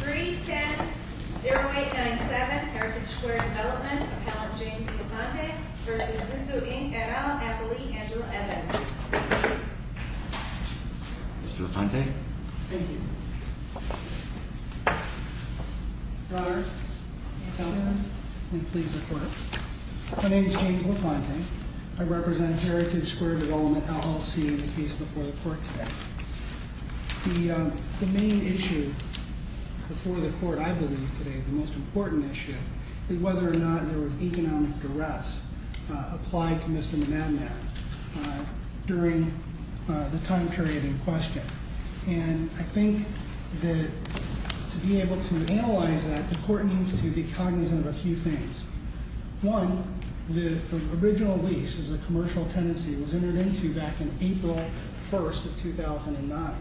310-0897 Heritage Square Development, Appellant James LaFontaine v. ZUZU, Inc., et al. Appellee Andrew Evans. Mr. LaFontaine. Thank you. Your Honor, Appellant, please report. My name is James LaFontaine. I represent Heritage Square Development, LLC in the case before the court today. The main issue before the court, I believe, today, the most important issue, is whether or not there was economic duress applied to Mr. Monadnac during the time period in question. And I think that to be able to analyze that, the court needs to be cognizant of a few things. One, the original lease is a commercial tenancy. It was entered into back in April 1st of 2009.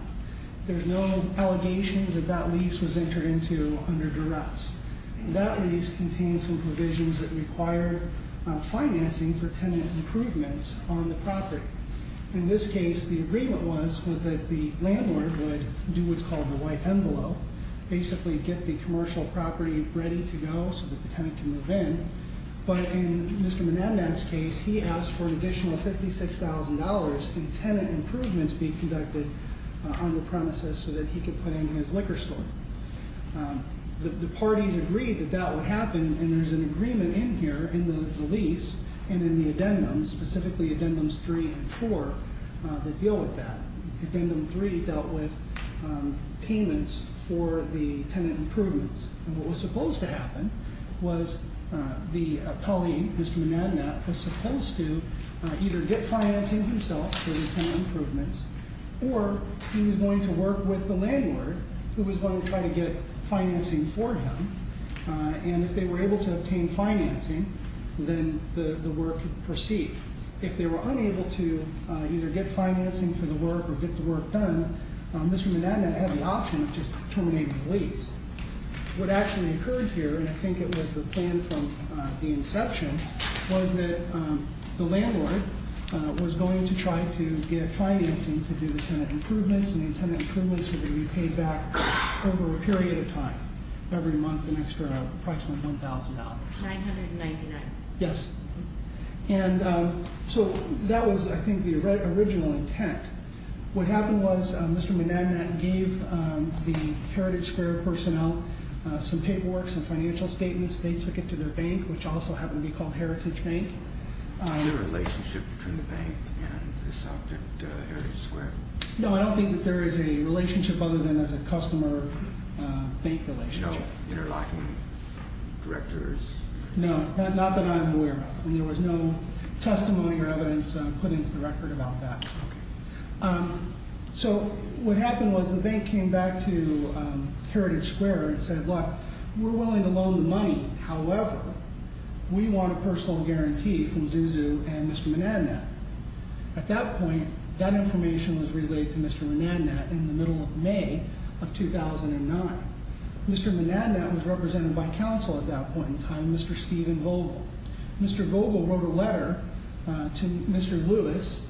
There's no allegations that that lease was entered into under duress. That lease contains some provisions that require financing for tenant improvements on the property. In this case, the agreement was that the landlord would do what's called the white envelope, basically get the commercial property ready to go so that the tenant can move in. But in Mr. Monadnac's case, he asked for an additional $56,000 in tenant improvements being conducted on the premises so that he could put in his liquor store. The parties agreed that that would happen, and there's an agreement in here in the lease and in the addendum, specifically addendums three and four, that deal with that. Addendum three dealt with payments for the tenant improvements. And what was supposed to happen was the appellee, Mr. Monadnac, was supposed to either get financing himself for the tenant improvements, or he was going to work with the landlord who was going to try to get financing for him. And if they were able to obtain financing, then the work could proceed. If they were unable to either get financing for the work or get the work done, Mr. Monadnac had the option of just terminating the lease. What actually occurred here, and I think it was the plan from the inception, was that the landlord was going to try to get financing to do the tenant improvements. And the tenant improvements would be repaid back over a period of time, every month, an extra approximately $1,000. $999. Yes. And so that was, I think, the original intent. What happened was Mr. Monadnac gave the Heritage Square personnel some paperwork, some financial statements. They took it to their bank, which also happened to be called Heritage Bank. Is there a relationship between the bank and this object, Heritage Square? No, I don't think that there is a relationship other than as a customer-bank relationship. No interlocking directors? No, not that I'm aware of. And there was no testimony or evidence put into the record about that. So what happened was the bank came back to Heritage Square and said, Look, we're willing to loan the money. However, we want a personal guarantee from Zuzu and Mr. Monadnac. At that point, that information was relayed to Mr. Monadnac in the middle of May of 2009. Mr. Monadnac was represented by counsel at that point in time, Mr. Stephen Vogel. Mr. Vogel wrote a letter to Mr. Lewis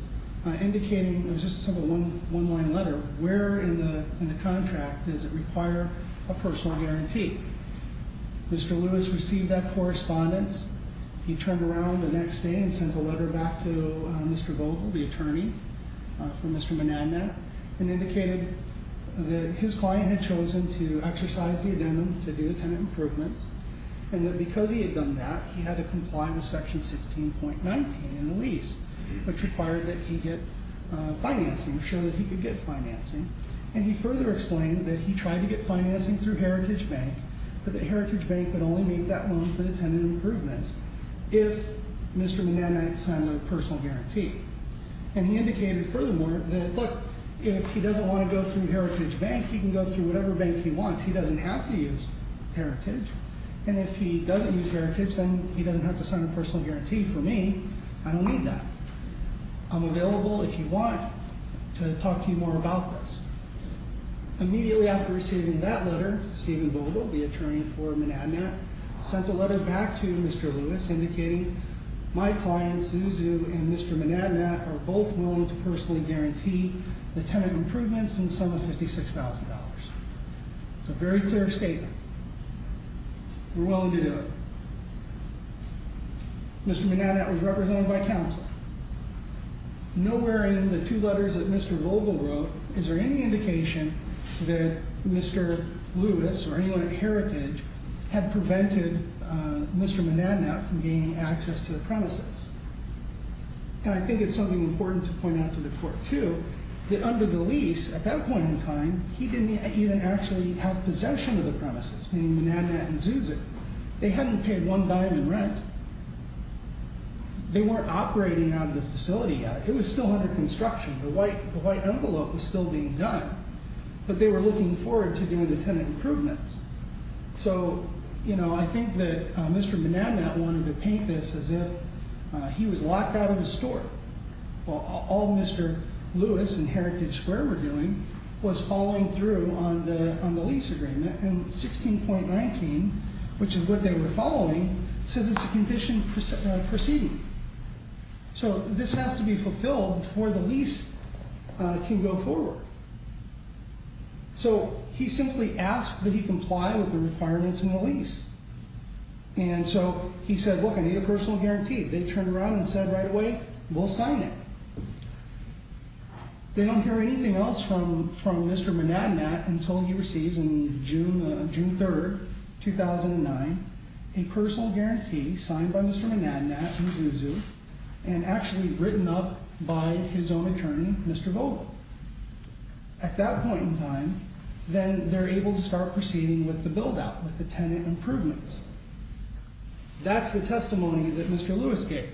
indicating, it was just a simple one-line letter, Where in the contract does it require a personal guarantee? Mr. Lewis received that correspondence. He turned around the next day and sent a letter back to Mr. Vogel, the attorney for Mr. Monadnac, and indicated that his client had chosen to exercise the addendum to do the tenant improvements and that because he had done that, he had to comply with section 16.19 in the lease, which required that he get financing, ensure that he could get financing. And he further explained that he tried to get financing through Heritage Bank, but that Heritage Bank could only make that loan for the tenant improvements if Mr. Monadnac signed a personal guarantee. And he indicated furthermore that, look, if he doesn't want to go through Heritage Bank, he can go through whatever bank he wants. He doesn't have to use Heritage. And if he doesn't use Heritage, then he doesn't have to sign a personal guarantee for me. I don't need that. I'm available if you want to talk to you more about this. Immediately after receiving that letter, Stephen Vogel, the attorney for Monadnac, sent a letter back to Mr. Lewis indicating, my client, Suzu, and Mr. Monadnac are both willing to personally guarantee the tenant improvements in the sum of $56,000. It's a very clear statement. We're willing to do it. Mr. Monadnac was represented by counsel. Nowhere in the two letters that Mr. Vogel wrote is there any indication that Mr. Lewis or anyone at Heritage had prevented Mr. Monadnac from gaining access to the premises. And I think it's something important to point out to the court, too, that under the lease, at that point in time, he didn't even actually have possession of the premises, meaning Monadnac and Suzu. They hadn't paid one dime in rent. They weren't operating out of the facility yet. It was still under construction. The white envelope was still being done. But they were looking forward to doing the tenant improvements. So, you know, I think that Mr. Monadnac wanted to paint this as if he was locked out of his store. All Mr. Lewis and Heritage Square were doing was following through on the lease agreement. And 16.19, which is what they were following, says it's a condition proceeding. So this has to be fulfilled before the lease can go forward. So he simply asked that he comply with the requirements in the lease. And so he said, look, I need a personal guarantee. They turned around and said right away, we'll sign it. They don't hear anything else from Mr. Monadnac until he receives in June 3, 2009, a personal guarantee signed by Mr. Monadnac and Suzu and actually written up by his own attorney, Mr. Vogel. At that point in time, then they're able to start proceeding with the buildout, with the tenant improvements. That's the testimony that Mr. Lewis gave.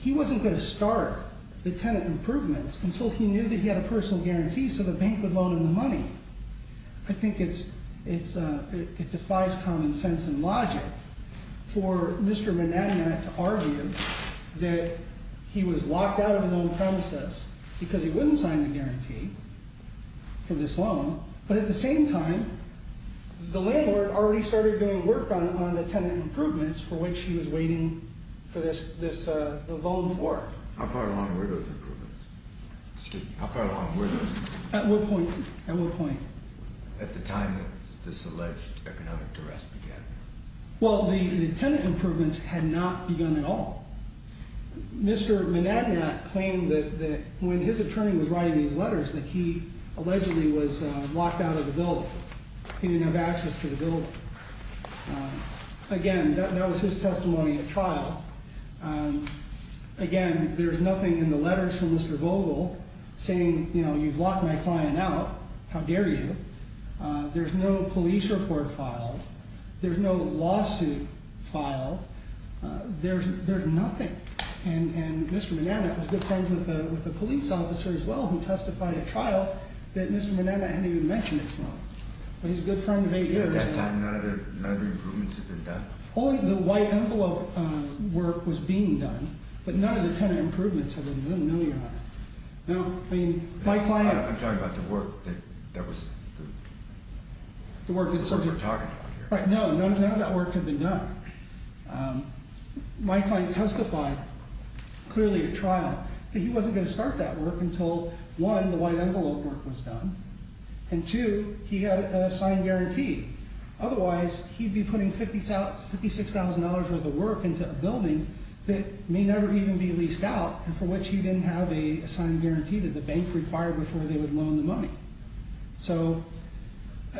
He wasn't going to start the tenant improvements until he knew that he had a personal guarantee so the bank would loan him the money. I think it defies common sense and logic for Mr. Monadnac to argue that he was locked out of the loan premises because he wouldn't sign the guarantee for this loan. But at the same time, the landlord already started doing work on the tenant improvements for which he was waiting for this loan for. How far along were those improvements? At what point? At what point? At the time that this alleged economic duress began. Well, the tenant improvements had not begun at all. Mr. Monadnac claimed that when his attorney was writing these letters that he allegedly was locked out of the building. He didn't have access to the building. Again, that was his testimony at trial. Again, there's nothing in the letters from Mr. Vogel saying, you know, you've locked my client out. How dare you? There's no police report filed. There's no lawsuit filed. There's nothing. And Mr. Monadnac was good friends with a police officer as well who testified at trial that Mr. Monadnac hadn't even mentioned his loan. But he's a good friend of eight years. At that time, none of the improvements had been done? Only the white envelope work was being done. But none of the tenant improvements had been done? No, Your Honor. No. I mean, my client. I'm talking about the work that was the work we're talking about here. Right. No. None of that work had been done. My client testified clearly at trial that he wasn't going to start that work until, one, the white envelope work was done. And, two, he had a signed guarantee. Otherwise, he'd be putting $56,000 worth of work into a building that may never even be leased out, for which he didn't have a signed guarantee that the bank required before they would loan the money. So,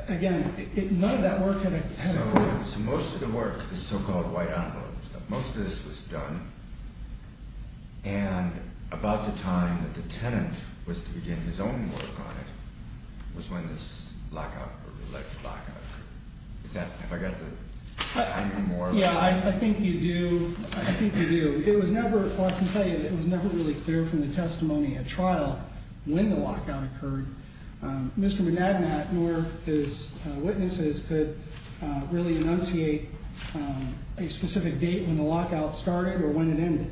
again, none of that work had been done. So most of the work, the so-called white envelope stuff, most of this was done. And about the time that the tenant was to begin his own work on it was when this lockout, or alleged lockout, occurred. Is that, have I got the timing more? Yeah, I think you do. I think you do. It was never, well, I can tell you that it was never really clear from the testimony at trial when the lockout occurred. Mr. McNabnat nor his witnesses could really enunciate a specific date when the lockout started or when it ended.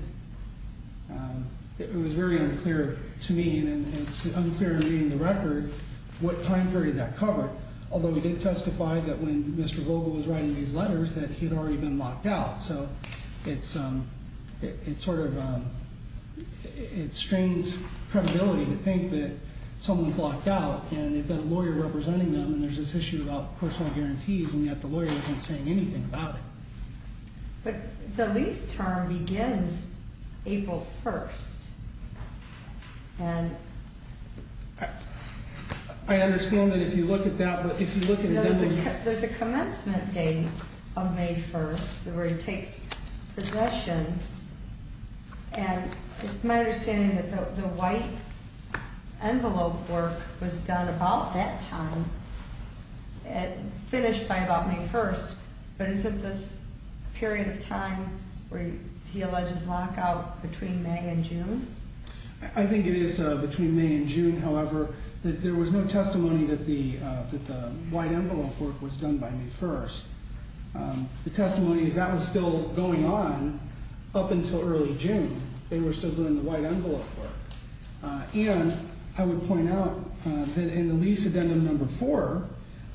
It was very unclear to me, and it's unclear to me in the record what time period that covered, although he did testify that when Mr. Vogel was writing these letters that he'd already been locked out. So it's sort of, it strains credibility to think that someone's locked out, and they've got a lawyer representing them, and there's this issue about personal guarantees, and yet the lawyer isn't saying anything about it. But the lease term begins April 1st, and... I understand that if you look at that, but if you look at it doesn't... There's a commencement date of May 1st where he takes possession, and it's my understanding that the white envelope work was done about that time, finished by about May 1st, but isn't this a period of time where he alleges lockout between May and June? I think it is between May and June, however. There was no testimony that the white envelope work was done by May 1st. The testimony is that was still going on up until early June. They were still doing the white envelope work. And I would point out that in the lease addendum number four,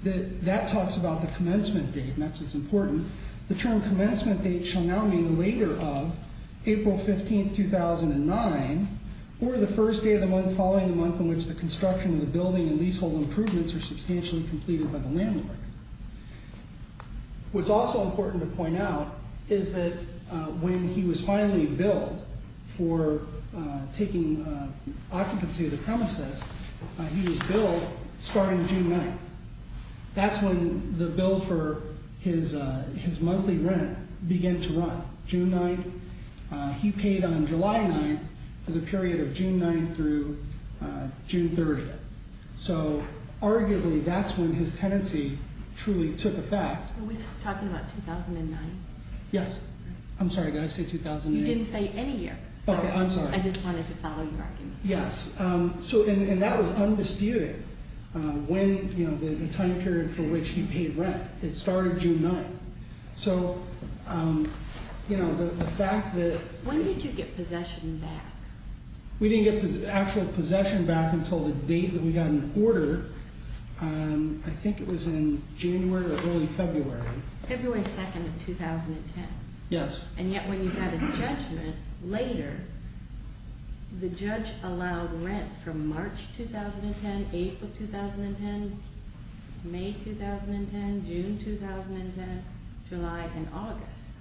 that talks about the commencement date, and that's what's important. The term commencement date shall now mean later of April 15th, 2009, or the first day of the month following the month in which the construction of the building and leasehold improvements are substantially completed by the landlord. What's also important to point out is that when he was finally billed for taking occupancy of the premises, he was billed starting June 9th. That's when the bill for his monthly rent began to run, June 9th. He paid on July 9th for the period of June 9th through June 30th. So arguably that's when his tenancy truly took effect. Are we talking about 2009? Yes. I'm sorry, did I say 2009? You didn't say any year. Okay, I'm sorry. I just wanted to follow your argument. Yes. And that was undisputed, the time period for which he paid rent. It started June 9th. When did you get possession back? We didn't get actual possession back until the date that we got an order. I think it was in January or early February. February 2nd of 2010. Yes. And yet when you had a judgment later, the judge allowed rent from March 2010, April 2010, May 2010, June 2010, July and August.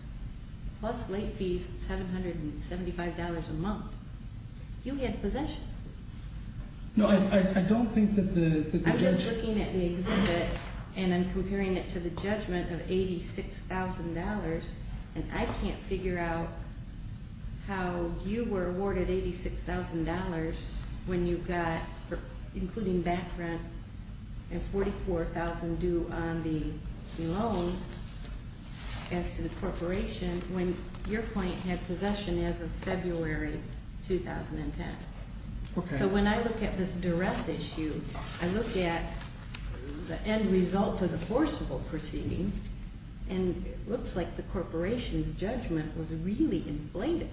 Plus late fees, $775 a month. You had possession. No, I don't think that the judge... I'm just looking at the exhibit and I'm comparing it to the judgment of $86,000 and I can't figure out how you were awarded $86,000 when you got, including back rent, and $44,000 due on the loan as to the corporation when your client had possession as of February 2010. Okay. So when I look at this duress issue, I look at the end result of the forcible proceeding and it looks like the corporation's judgment was really inflated.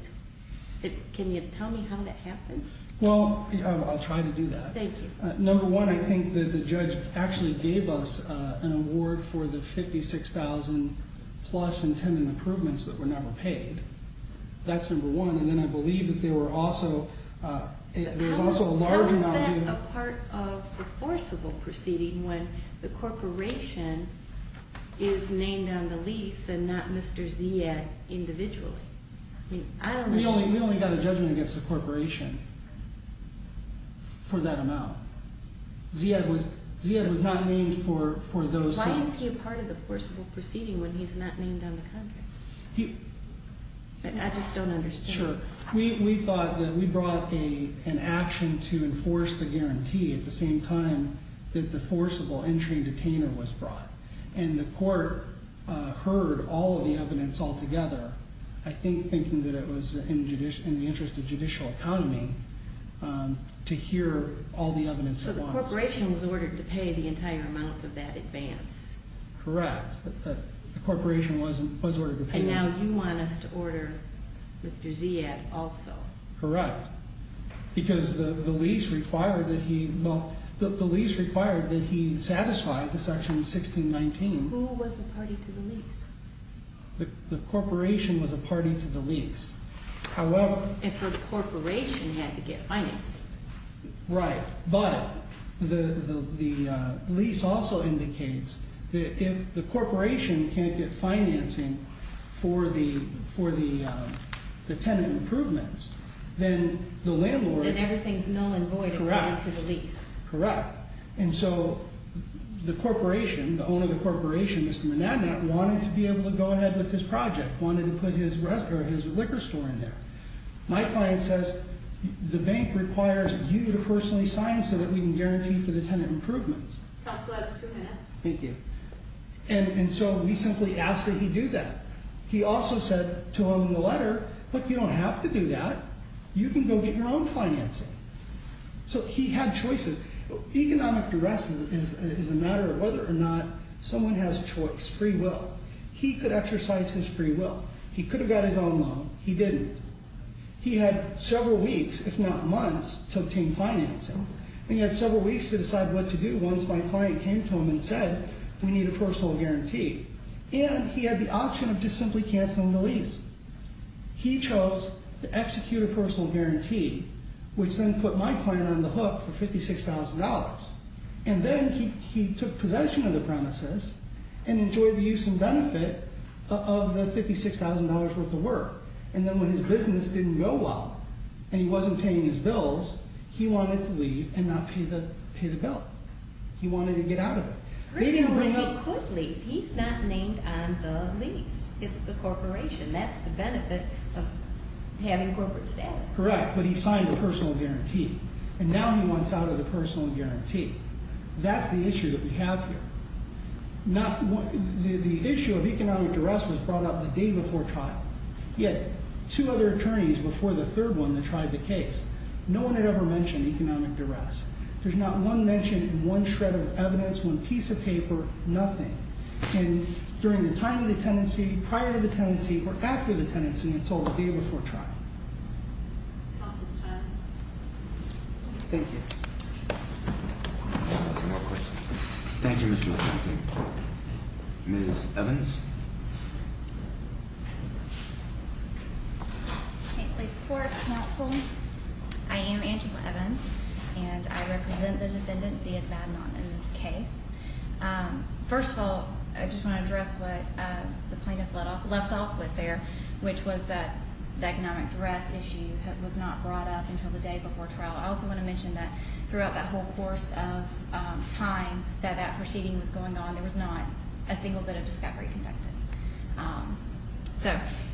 Can you tell me how that happened? Well, I'll try to do that. Thank you. Number one, I think that the judge actually gave us an award for the $56,000 plus intended improvements that were never paid. That's number one. And then I believe that there was also a large amount due... that is named on the lease and not Mr. Ziad individually. We only got a judgment against the corporation for that amount. Ziad was not named for those things. Why is he a part of the forcible proceeding when he's not named on the contract? I just don't understand. Sure. We thought that we brought an action to enforce the guarantee at the same time that the forcible entry detainer was brought. And the court heard all of the evidence altogether. I think thinking that it was in the interest of judicial economy to hear all the evidence... So the corporation was ordered to pay the entire amount of that advance. Correct. The corporation was ordered to pay... And now you want us to order Mr. Ziad also. Correct. Because the lease required that he... Well, the lease required that he satisfy the section 1619. Who was a party to the lease? The corporation was a party to the lease. However... And so the corporation had to get financing. Right. But the lease also indicates that if the corporation can't get financing for the tenant improvements, then the landlord... Then everything's null and void according to the lease. Correct. And so the corporation, the owner of the corporation, Mr. Menagna, wanted to be able to go ahead with his project, wanted to put his liquor store in there. My client says, the bank requires you to personally sign so that we can guarantee for the tenant improvements. Counsel has two minutes. Thank you. And so we simply asked that he do that. He also said to him in the letter, look, you don't have to do that. You can go get your own financing. So he had choices. Economic duress is a matter of whether or not someone has choice, free will. He could exercise his free will. He could have got his own loan. He didn't. He had several weeks, if not months, to obtain financing. And he had several weeks to decide what to do once my client came to him and said, we need a personal guarantee. And he had the option of just simply canceling the lease. He chose to execute a personal guarantee, which then put my client on the hook for $56,000. And then he took possession of the premises and enjoyed the use and benefit of the $56,000 worth of work. And then when his business didn't go well and he wasn't paying his bills, he wanted to leave and not pay the bill. He wanted to get out of it. But he could leave. He's not named on the lease. It's the corporation. That's the benefit of having corporate status. Correct. But he signed a personal guarantee. And now he wants out of the personal guarantee. That's the issue that we have here. The issue of economic duress was brought up the day before trial. He had two other attorneys before the third one that tried the case. No one had ever mentioned economic duress. There's not one mention in one shred of evidence, one piece of paper, nothing. And during the time of the tenancy, prior to the tenancy, or after the tenancy, it's all the day before trial. Counsel's time. Thank you. Any more questions? Thank you, Mr. LaFontaine. Ms. Evans. Thank you, court, counsel. I am Angela Evans, and I represent the defendant, Zia Badman, in this case. First of all, I just want to address what the plaintiff left off with there, which was that the economic duress issue was not brought up until the day before trial. I also want to mention that throughout that whole course of time that that proceeding was going on, there was not a single bit of discovery conducted.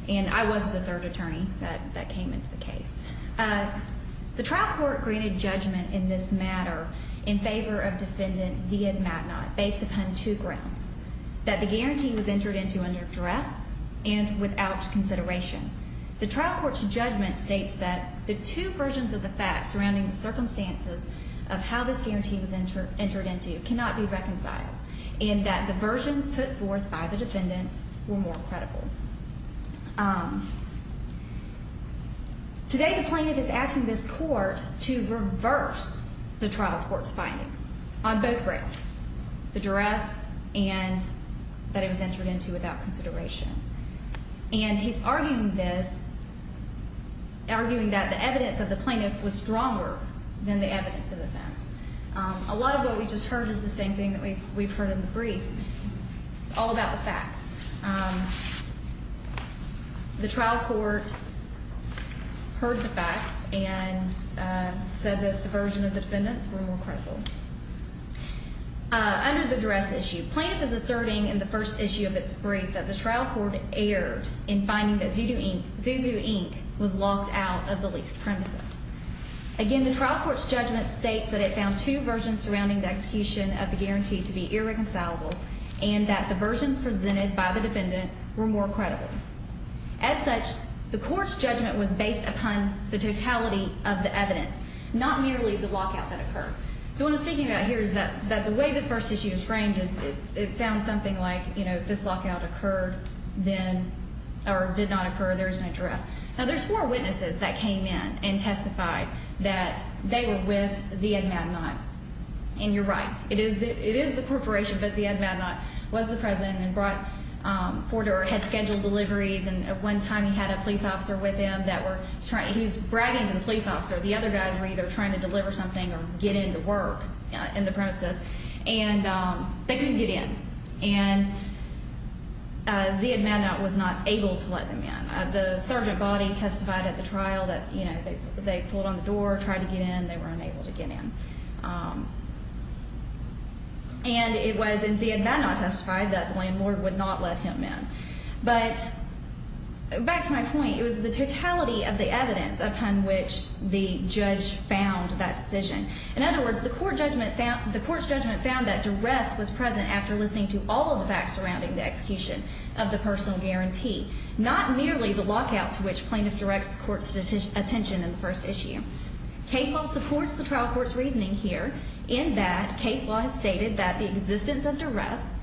And I was the third attorney that came into the case. The trial court granted judgment in this matter in favor of defendant Zia Badman based upon two grounds, that the guarantee was entered into under duress and without consideration. The trial court's judgment states that the two versions of the facts surrounding the circumstances of how this guarantee was entered into cannot be reconciled, and that the versions put forth by the defendant were more credible. Today the plaintiff is asking this court to reverse the trial court's findings on both grounds, the duress and that it was entered into without consideration. And he's arguing this, arguing that the evidence of the plaintiff was stronger than the evidence of the defense. A lot of what we just heard is the same thing that we've heard in the briefs. It's all about the facts. The trial court heard the facts and said that the version of the defendants were more credible. Under the duress issue, plaintiff is asserting in the first issue of its brief that the trial court erred in finding that Zuzu Inc. was locked out of the leased premises. Again, the trial court's judgment states that it found two versions surrounding the execution of the guarantee to be irreconcilable and that the versions presented by the defendant were more credible. As such, the court's judgment was based upon the totality of the evidence, not merely the lockout that occurred. So what I'm speaking about here is that the way the first issue is framed is it sounds something like, you know, if this lockout occurred then or did not occur, there is no duress. Now, there's four witnesses that came in and testified that they were with Z.A. Madmine, and you're right. It is the corporation, but Z.A. Madmine was the president and had scheduled deliveries, and at one time he had a police officer with him who was bragging to the police officer. The other guys were either trying to deliver something or get into work in the premises, and they couldn't get in. And Z.A. Madmine was not able to let them in. The sergeant body testified at the trial that, you know, they pulled on the door, tried to get in, and they were unable to get in. And it was in Z.A. Madmine testified that the landlord would not let him in. But back to my point, it was the totality of the evidence upon which the judge found that decision. In other words, the court's judgment found that duress was present after listening to all of the facts surrounding the execution of the personal guarantee, not merely the lockout to which plaintiff directs the court's attention in the first issue. Case law supports the trial court's reasoning here in that case law has stated that the existence of duress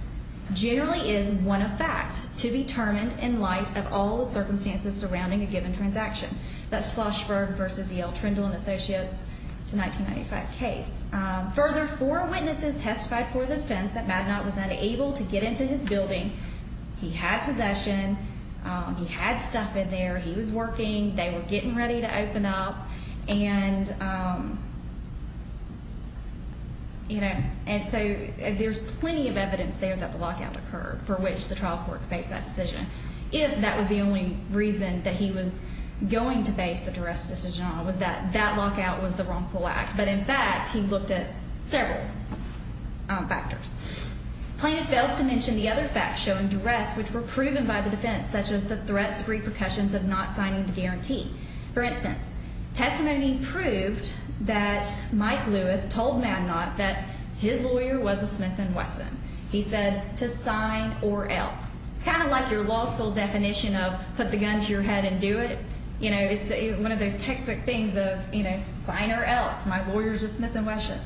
generally is one of fact to be determined in light of all the circumstances surrounding a given transaction. That's Schlossberg v. Yale Trindle and Associates. It's a 1995 case. Further, four witnesses testified for defense that Madnot was unable to get into his building. He had possession. He had stuff in there. He was working. They were getting ready to open up. And, you know, and so there's plenty of evidence there that the lockout occurred for which the trial court based that decision. If that was the only reason that he was going to base the duress decision on was that that lockout was the wrongful act. But, in fact, he looked at several factors. Plaintiff fails to mention the other facts showing duress which were proven by the defense, such as the threats, repercussions of not signing the guarantee. For instance, testimony proved that Mike Lewis told Madnot that his lawyer was a Smith and Wesson. He said to sign or else. It's kind of like your law school definition of put the gun to your head and do it. You know, it's one of those textbook things of, you know, sign or else. My lawyer's a Smith and Wesson.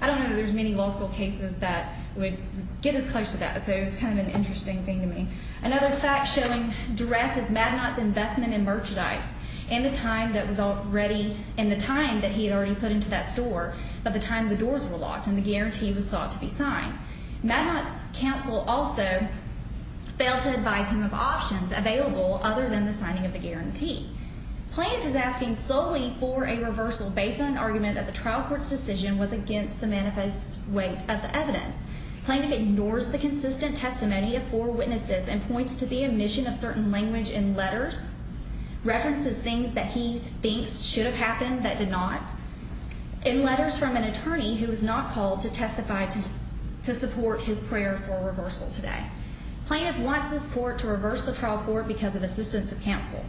I don't know that there's many law school cases that would get as close to that. So it was kind of an interesting thing to me. Another fact showing duress is Madnot's investment in merchandise in the time that was already in the time that he had already put into that store by the time the doors were locked and the guarantee was sought to be signed. Madnot's counsel also failed to advise him of options available other than the signing of the guarantee. Plaintiff is asking solely for a reversal based on an argument that the trial court's decision was against the manifest weight of the evidence. Plaintiff ignores the consistent testimony of four witnesses and points to the omission of certain language in letters, references things that he thinks should have happened that did not, in letters from an attorney who was not called to testify to support his prayer for a reversal today. Plaintiff wants this court to reverse the trial court because of assistance of counsel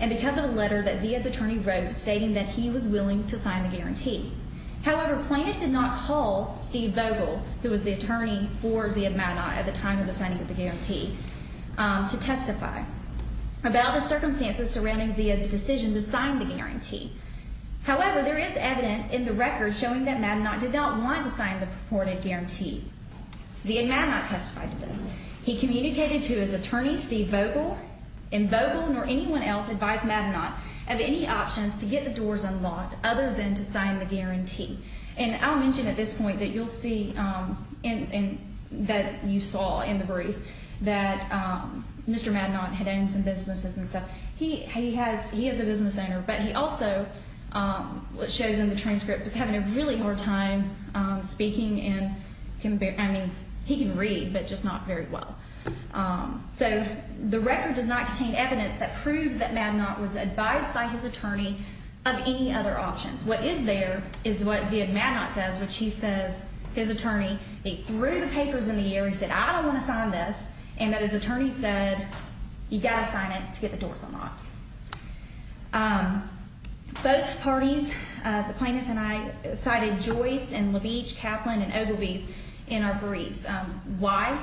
and because of a letter that Zia's attorney wrote stating that he was willing to sign the guarantee. However, plaintiff did not call Steve Vogel, who was the attorney for Zia Madnot at the time of the signing of the guarantee, to testify about the circumstances surrounding Zia's decision to sign the guarantee. However, there is evidence in the record showing that Madnot did not want to sign the purported guarantee. Zia Madnot testified to this. He communicated to his attorney, Steve Vogel, and Vogel nor anyone else advised Madnot of any options to get the doors unlocked other than to sign the guarantee. And I'll mention at this point that you'll see that you saw in the briefs that Mr. Madnot had owned some businesses and stuff. He is a business owner, but he also, what shows in the transcript, is having a really hard time speaking and can barely, I mean, he can read, but just not very well. So the record does not contain evidence that proves that Madnot was advised by his attorney of any other options. What is there is what Zia Madnot says, which he says, his attorney, he threw the papers in the air, he said, I don't want to sign this, and that his attorney said, you've got to sign it to get the doors unlocked. Both parties, the plaintiff and I, cited Joyce and LaVeach, Kaplan, and Ogilvie in our briefs. Why?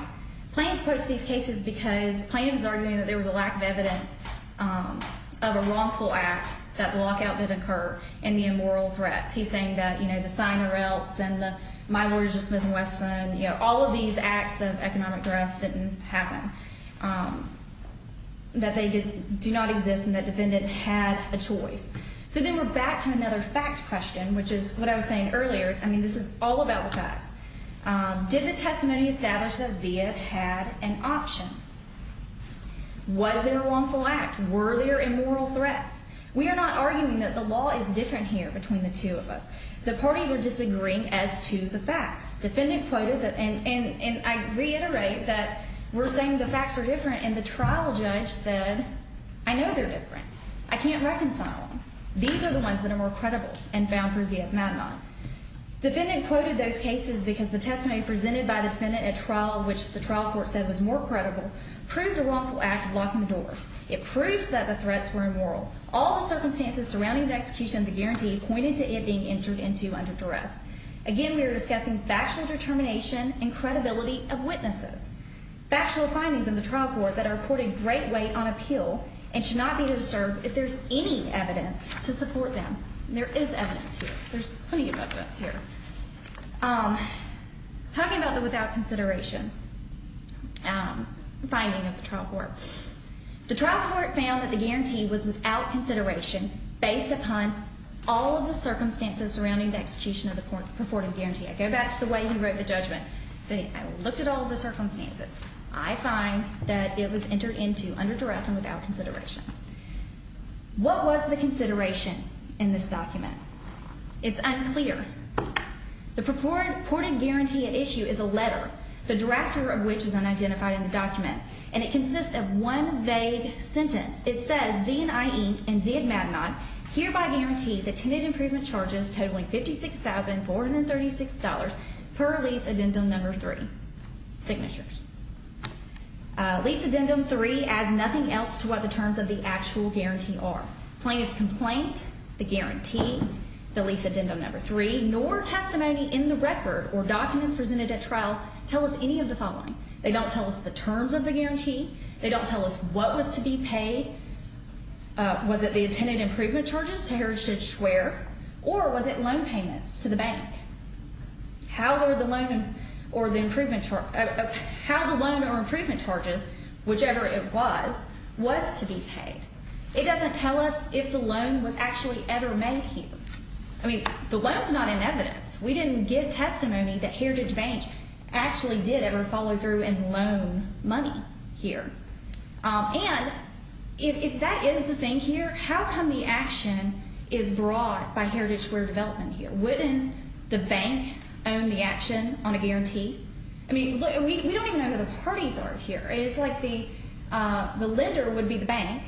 The plaintiff quotes these cases because the plaintiff is arguing that there was a lack of evidence of a wrongful act, that the lockout did occur, and the immoral threats. He's saying that, you know, the sign or else, and my lawyers, Smith and Wesson, you know, all of these acts of economic duress didn't happen. That they do not exist, and that defendant had a choice. So then we're back to another fact question, which is what I was saying earlier. I mean, this is all about the facts. Did the testimony establish that Zia had an option? Was there a wrongful act? Were there immoral threats? We are not arguing that the law is different here between the two of us. The parties are disagreeing as to the facts. Defendant quoted, and I reiterate that we're saying the facts are different, and the trial judge said, I know they're different. I can't reconcile them. These are the ones that are more credible and found for Zia Madman. Defendant quoted those cases because the testimony presented by the defendant at trial, which the trial court said was more credible, proved a wrongful act of locking the doors. It proves that the threats were immoral. All the circumstances surrounding the execution of the guarantee pointed to it being entered into under duress. Again, we are discussing factual determination and credibility of witnesses. Factual findings in the trial court that are reported great weight on appeal and should not be disturbed if there's any evidence to support them. There is evidence here. There's plenty of evidence here. Talking about the without consideration finding of the trial court. The trial court found that the guarantee was without consideration based upon all of the circumstances surrounding the execution of the purported guarantee. I go back to the way he wrote the judgment, saying I looked at all the circumstances. I find that it was entered into under duress and without consideration. What was the consideration in this document? It's unclear. The purported guarantee at issue is a letter, the drafter of which is unidentified in the document. And it consists of one vague sentence. It says Z&I Inc. and Zia Madman hereby guarantee the tenant improvement charges totaling $56,436 per lease addendum number three. Signatures. Lease addendum three adds nothing else to what the terms of the actual guarantee are. Plaintiff's complaint, the guarantee, the lease addendum number three, nor testimony in the record or documents presented at trial tell us any of the following. They don't tell us the terms of the guarantee. They don't tell us what was to be paid. Was it the tenant improvement charges to Heritage Square or was it loan payments to the bank? How the loan or improvement charges, whichever it was, was to be paid. It doesn't tell us if the loan was actually ever made here. I mean, the loan's not in evidence. We didn't get testimony that Heritage Bank actually did ever follow through and loan money here. And if that is the thing here, how come the action is brought by Heritage Square Development here? Wouldn't the bank own the action on a guarantee? I mean, look, we don't even know who the parties are here. It's like the lender would be the bank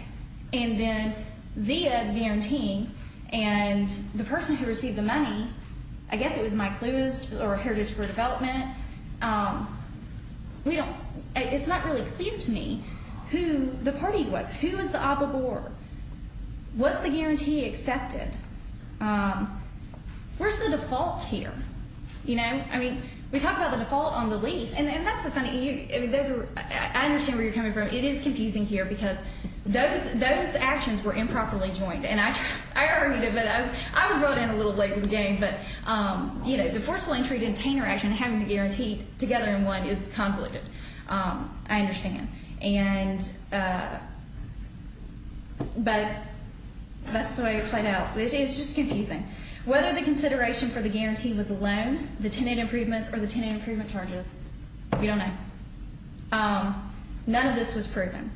and then Zia's guaranteeing and the person who received the money, I guess it was Mike Lewis or Heritage Square Development. It's not really clear to me who the parties was. Who was the obligor? Was the guarantee accepted? Where's the default here? You know? I mean, we talk about the default on the lease. And that's the funny thing. I understand where you're coming from. It is confusing here because those actions were improperly joined. And I argued a bit. I was brought in a little late to the game. But, you know, the forceful entry to retainer action and having the guarantee together in one is convoluted. I understand. But that's the way it played out. It's just confusing. Whether the consideration for the guarantee was a loan, the tenant improvements, or the tenant improvement charges, we don't know. None of this was proven.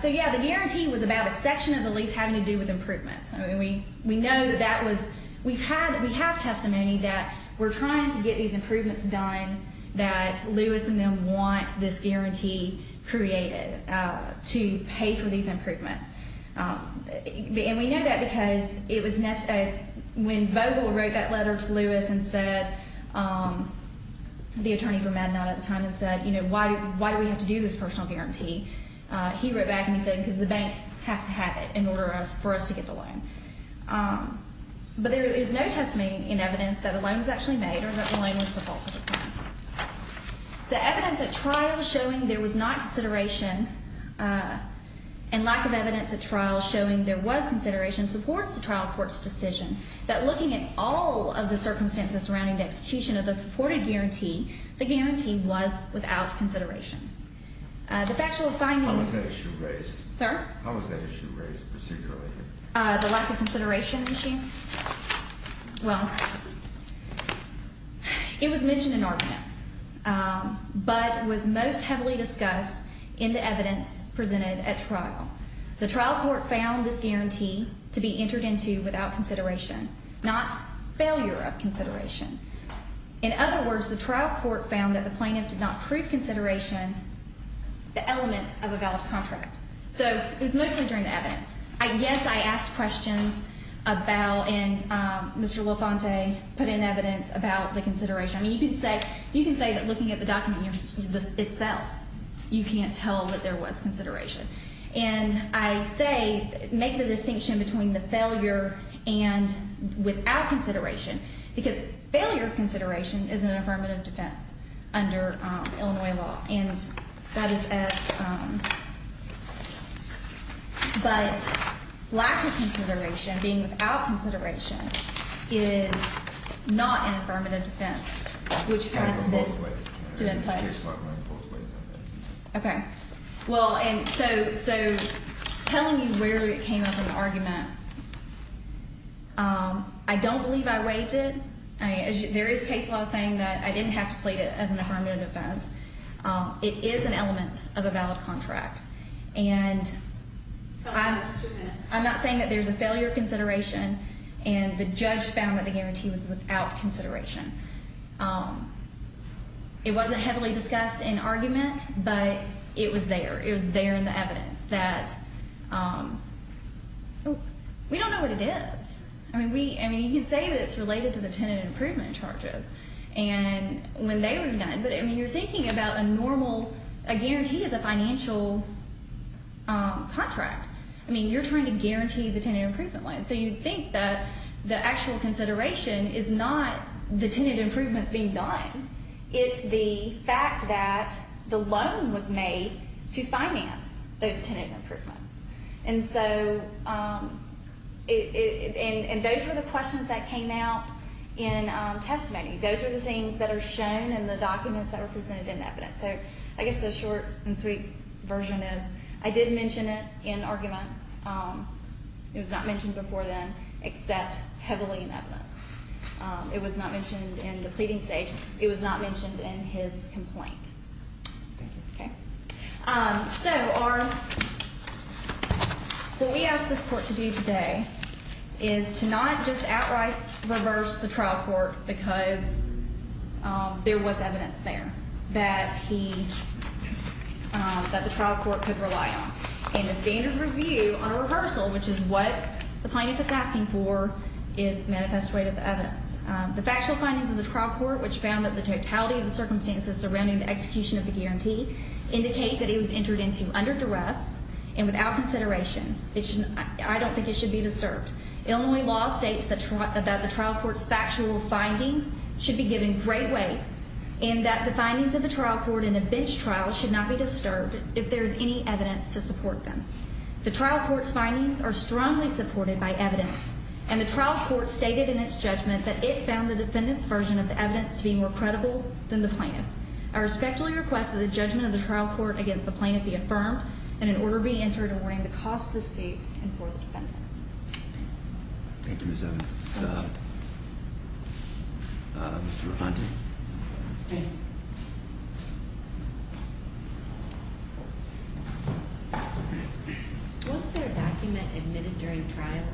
So, yeah, the guarantee was about a section of the lease having to do with improvements. We know that that was we've had that we have testimony that we're trying to get these improvements done, that Lewis and them want this guarantee created to pay for these improvements. And we know that because it was when Vogel wrote that letter to Lewis and said, the attorney from MADNOT at the time, and said, you know, why do we have to do this personal guarantee? He wrote back and he said, because the bank has to have it in order for us to get the loan. But there is no testimony in evidence that a loan was actually made or that the loan was defaulted. The evidence at trial showing there was not consideration and lack of evidence at trial showing there was consideration supports the trial court's decision that looking at all of the circumstances surrounding the execution of the purported guarantee, the guarantee was without consideration. The factual findings. How was that issue raised? Sir? How was that issue raised procedurally? The lack of consideration issue? Well, it was mentioned in argument, but was most heavily discussed in the evidence presented at trial. The trial court found this guarantee to be entered into without consideration, not failure of consideration. In other words, the trial court found that the plaintiff did not prove consideration, the elements of a valid contract. So it was mostly during the evidence. I guess I asked questions about and Mr. Lafonte put in evidence about the consideration. I mean, you could say that looking at the document itself, you can't tell that there was consideration. And I say make the distinction between the failure and without consideration because failure of consideration is an affirmative defense under Illinois law. And that is as. But lack of consideration being without consideration is not an affirmative defense, which has been put in place. OK, well, and so so telling you where it came up in the argument. I don't believe I waived it. There is case law saying that I didn't have to plead it as an affirmative defense. It is an element of a valid contract. And I'm not saying that there's a failure of consideration and the judge found that the guarantee was without consideration. It wasn't heavily discussed in argument, but it was there. It was there in the evidence that we don't know what it is. I mean, we I mean, you say that it's related to the tenant improvement charges and when they were done. But I mean, you're thinking about a normal guarantee as a financial contract. I mean, you're trying to guarantee the tenant improvement. And so you think that the actual consideration is not the tenant improvements being done. It's the fact that the loan was made to finance those tenant improvements. And so it and those were the questions that came out in testimony. Those are the things that are shown in the documents that are presented in evidence. So I guess the short and sweet version is I did mention it in argument. It was not mentioned before then, except heavily in that. It was not mentioned in the pleading stage. It was not mentioned in his complaint. OK. So what we asked this court to do today is to not just outright reverse the trial court because there was evidence there that he that the trial court could rely on. In the standard review on a rehearsal, which is what the plaintiff is asking for, is manifest way to the evidence. The factual findings of the trial court, which found that the totality of the circumstances surrounding the execution of the guarantee indicate that it was entered into under duress and without consideration. I don't think it should be disturbed. Illinois law states that the trial court's factual findings should be given great weight and that the findings of the trial court in a bench trial should not be disturbed if there's any evidence to support them. The trial court's findings are strongly supported by evidence. And the trial court stated in its judgment that it found the defendant's version of the evidence to be more credible than the plaintiff's. I respectfully request that the judgment of the trial court against the plaintiff be affirmed and an order be entered awarding the cost of the seat and for the defendant. Thank you, Ms. Evans. Mr. Refante. Thank you. Was there a document admitted during trial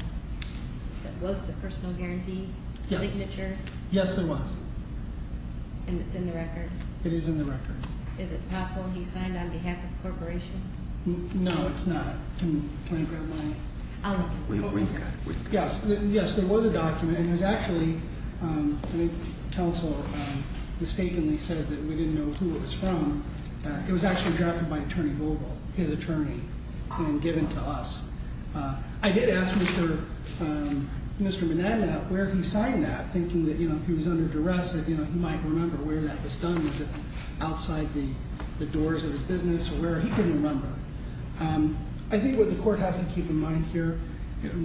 that was the personal guarantee? Yes. Signature? Yes, there was. And it's in the record? It is in the record. Is it possible he signed on behalf of the corporation? No, it's not. Can I grab my? Yes, there was a document. I think counsel mistakenly said that we didn't know who it was from. It was actually drafted by Attorney Vogel, his attorney, and given to us. I did ask Mr. Mineta where he signed that, thinking that, you know, if he was under duress, that, you know, he might remember where that was done. Was it outside the doors of his business or where? He couldn't remember. I think what the court has to keep in mind here,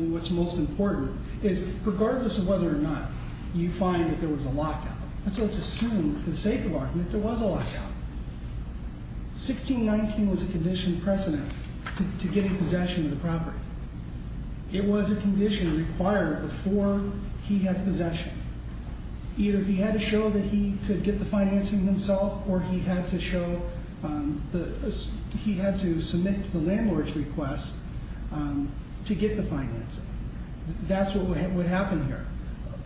what's most important, is regardless of whether or not you find that there was a lockout, let's assume for the sake of argument there was a lockout. 1619 was a condition precedent to getting possession of the property. It was a condition required before he had possession. Either he had to show that he could get the financing himself or he had to show that he had to submit to the landlord's request to get the financing. That's what would happen here.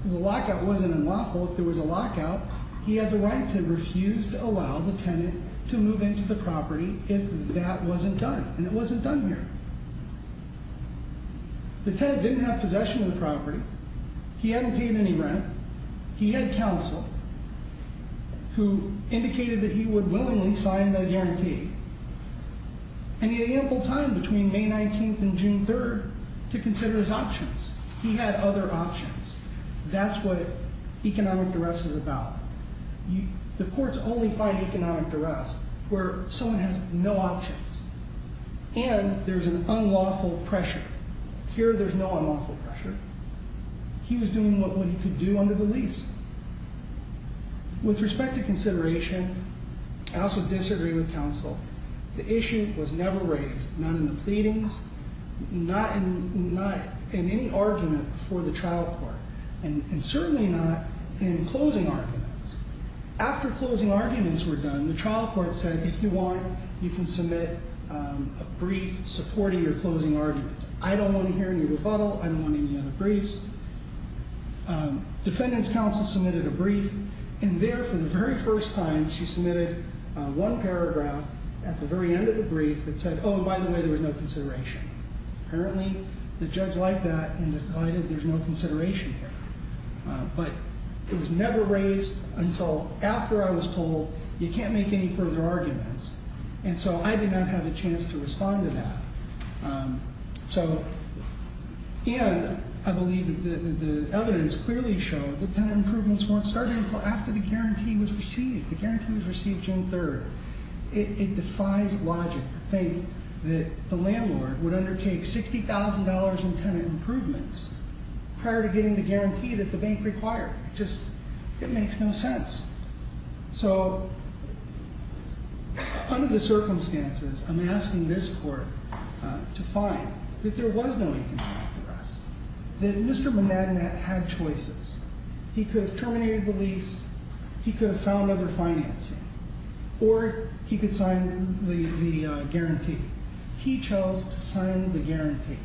The lockout wasn't unlawful. If there was a lockout, he had the right to refuse to allow the tenant to move into the property if that wasn't done, and it wasn't done here. He hadn't paid any rent. He had counsel who indicated that he would willingly sign the guarantee. And he had ample time between May 19th and June 3rd to consider his options. He had other options. That's what economic duress is about. The courts only find economic duress where someone has no options and there's an unlawful pressure. Here there's no unlawful pressure. He was doing what he could do under the lease. With respect to consideration, I also disagree with counsel. The issue was never raised, not in the pleadings, not in any argument before the trial court, and certainly not in closing arguments. After closing arguments were done, the trial court said, if you want, you can submit a brief supporting your closing arguments. I don't want to hear any rebuttal. I don't want any other briefs. Defendant's counsel submitted a brief, and there for the very first time she submitted one paragraph at the very end of the brief that said, oh, by the way, there was no consideration. Apparently the judge liked that and decided there's no consideration here. But it was never raised until after I was told you can't make any further arguments. And so I did not have a chance to respond to that. And I believe the evidence clearly showed that tenant improvements weren't started until after the guarantee was received. The guarantee was received June 3rd. It defies logic to think that the landlord would undertake $60,000 in tenant improvements prior to getting the guarantee that the bank required. It just makes no sense. So under the circumstances, I'm asking this court to find that there was no economic arrest, that Mr. He could sign the guarantee. He chose to sign the guarantee.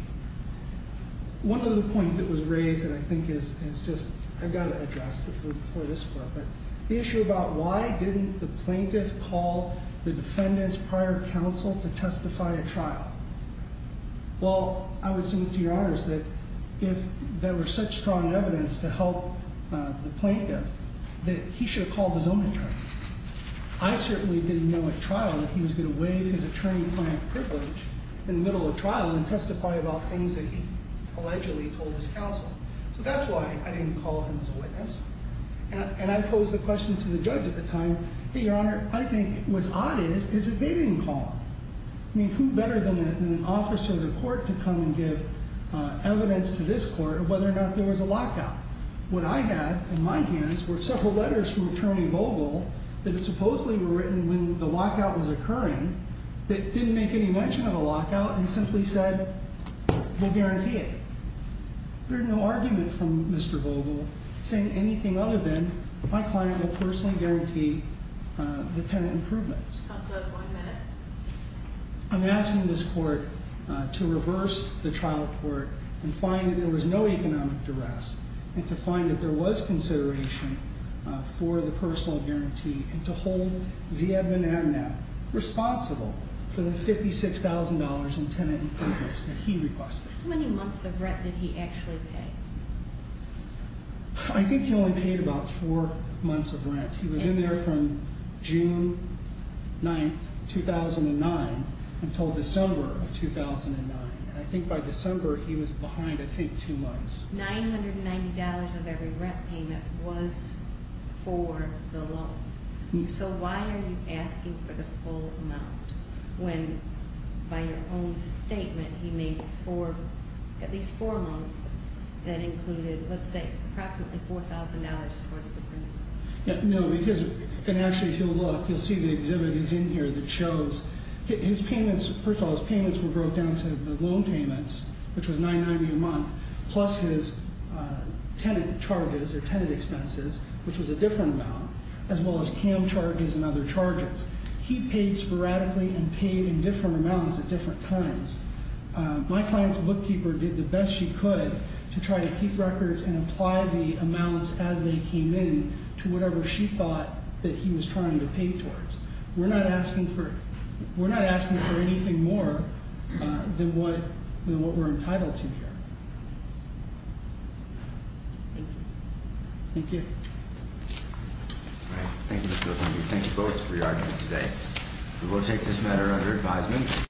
One other point that was raised that I think is just, I've got to address it before this court, but the issue about why didn't the plaintiff call the defendant's prior counsel to testify at trial? Well, I would say to your honors that if there were such strong evidence to help the plaintiff, that he should have called his own attorney. I certainly didn't know at trial that he was going to waive his attorney-client privilege in the middle of trial and testify about things that he allegedly told his counsel. So that's why I didn't call him as a witness. And I posed the question to the judge at the time, hey, your honor, I think what's odd is, is that they didn't call. I mean, who better than an officer of the court to come and give evidence to this court of whether or not there was a lockout? What I had in my hands were several letters from Attorney Vogel that supposedly were written when the lockout was occurring that didn't make any mention of a lockout and simply said, we'll guarantee it. There's no argument from Mr. Vogel saying anything other than my client will personally guarantee the tenant improvements. Counsel has one minute. I'm asking this court to reverse the trial court and find that there was no economic duress and to find that there was consideration for the personal guarantee and to hold Ziad bin Abnab responsible for the $56,000 in tenant improvements that he requested. How many months of rent did he actually pay? I think he only paid about four months of rent. He was in there from June 9th, 2009 until December of 2009. And I think by December he was behind, I think, two months. $990 of every rent payment was for the loan. So why are you asking for the full amount when by your own statement he made for at least four months that included, let's say, approximately $4,000 towards the principal? No, because, and actually if you'll look, you'll see the exhibit is in here that shows his payments. First of all, his payments were broke down to the loan payments, which was $990 a month, plus his tenant charges or tenant expenses, which was a different amount, as well as CAM charges and other charges. He paid sporadically and paid in different amounts at different times. My client's bookkeeper did the best she could to try to keep records and apply the amounts as they came in to whatever she thought that he was trying to pay towards. We're not asking for anything more than what we're entitled to here. Thank you. All right. Thank you, Mr. O'Connor. We thank you both for your argument today. We will take this matter under advisement.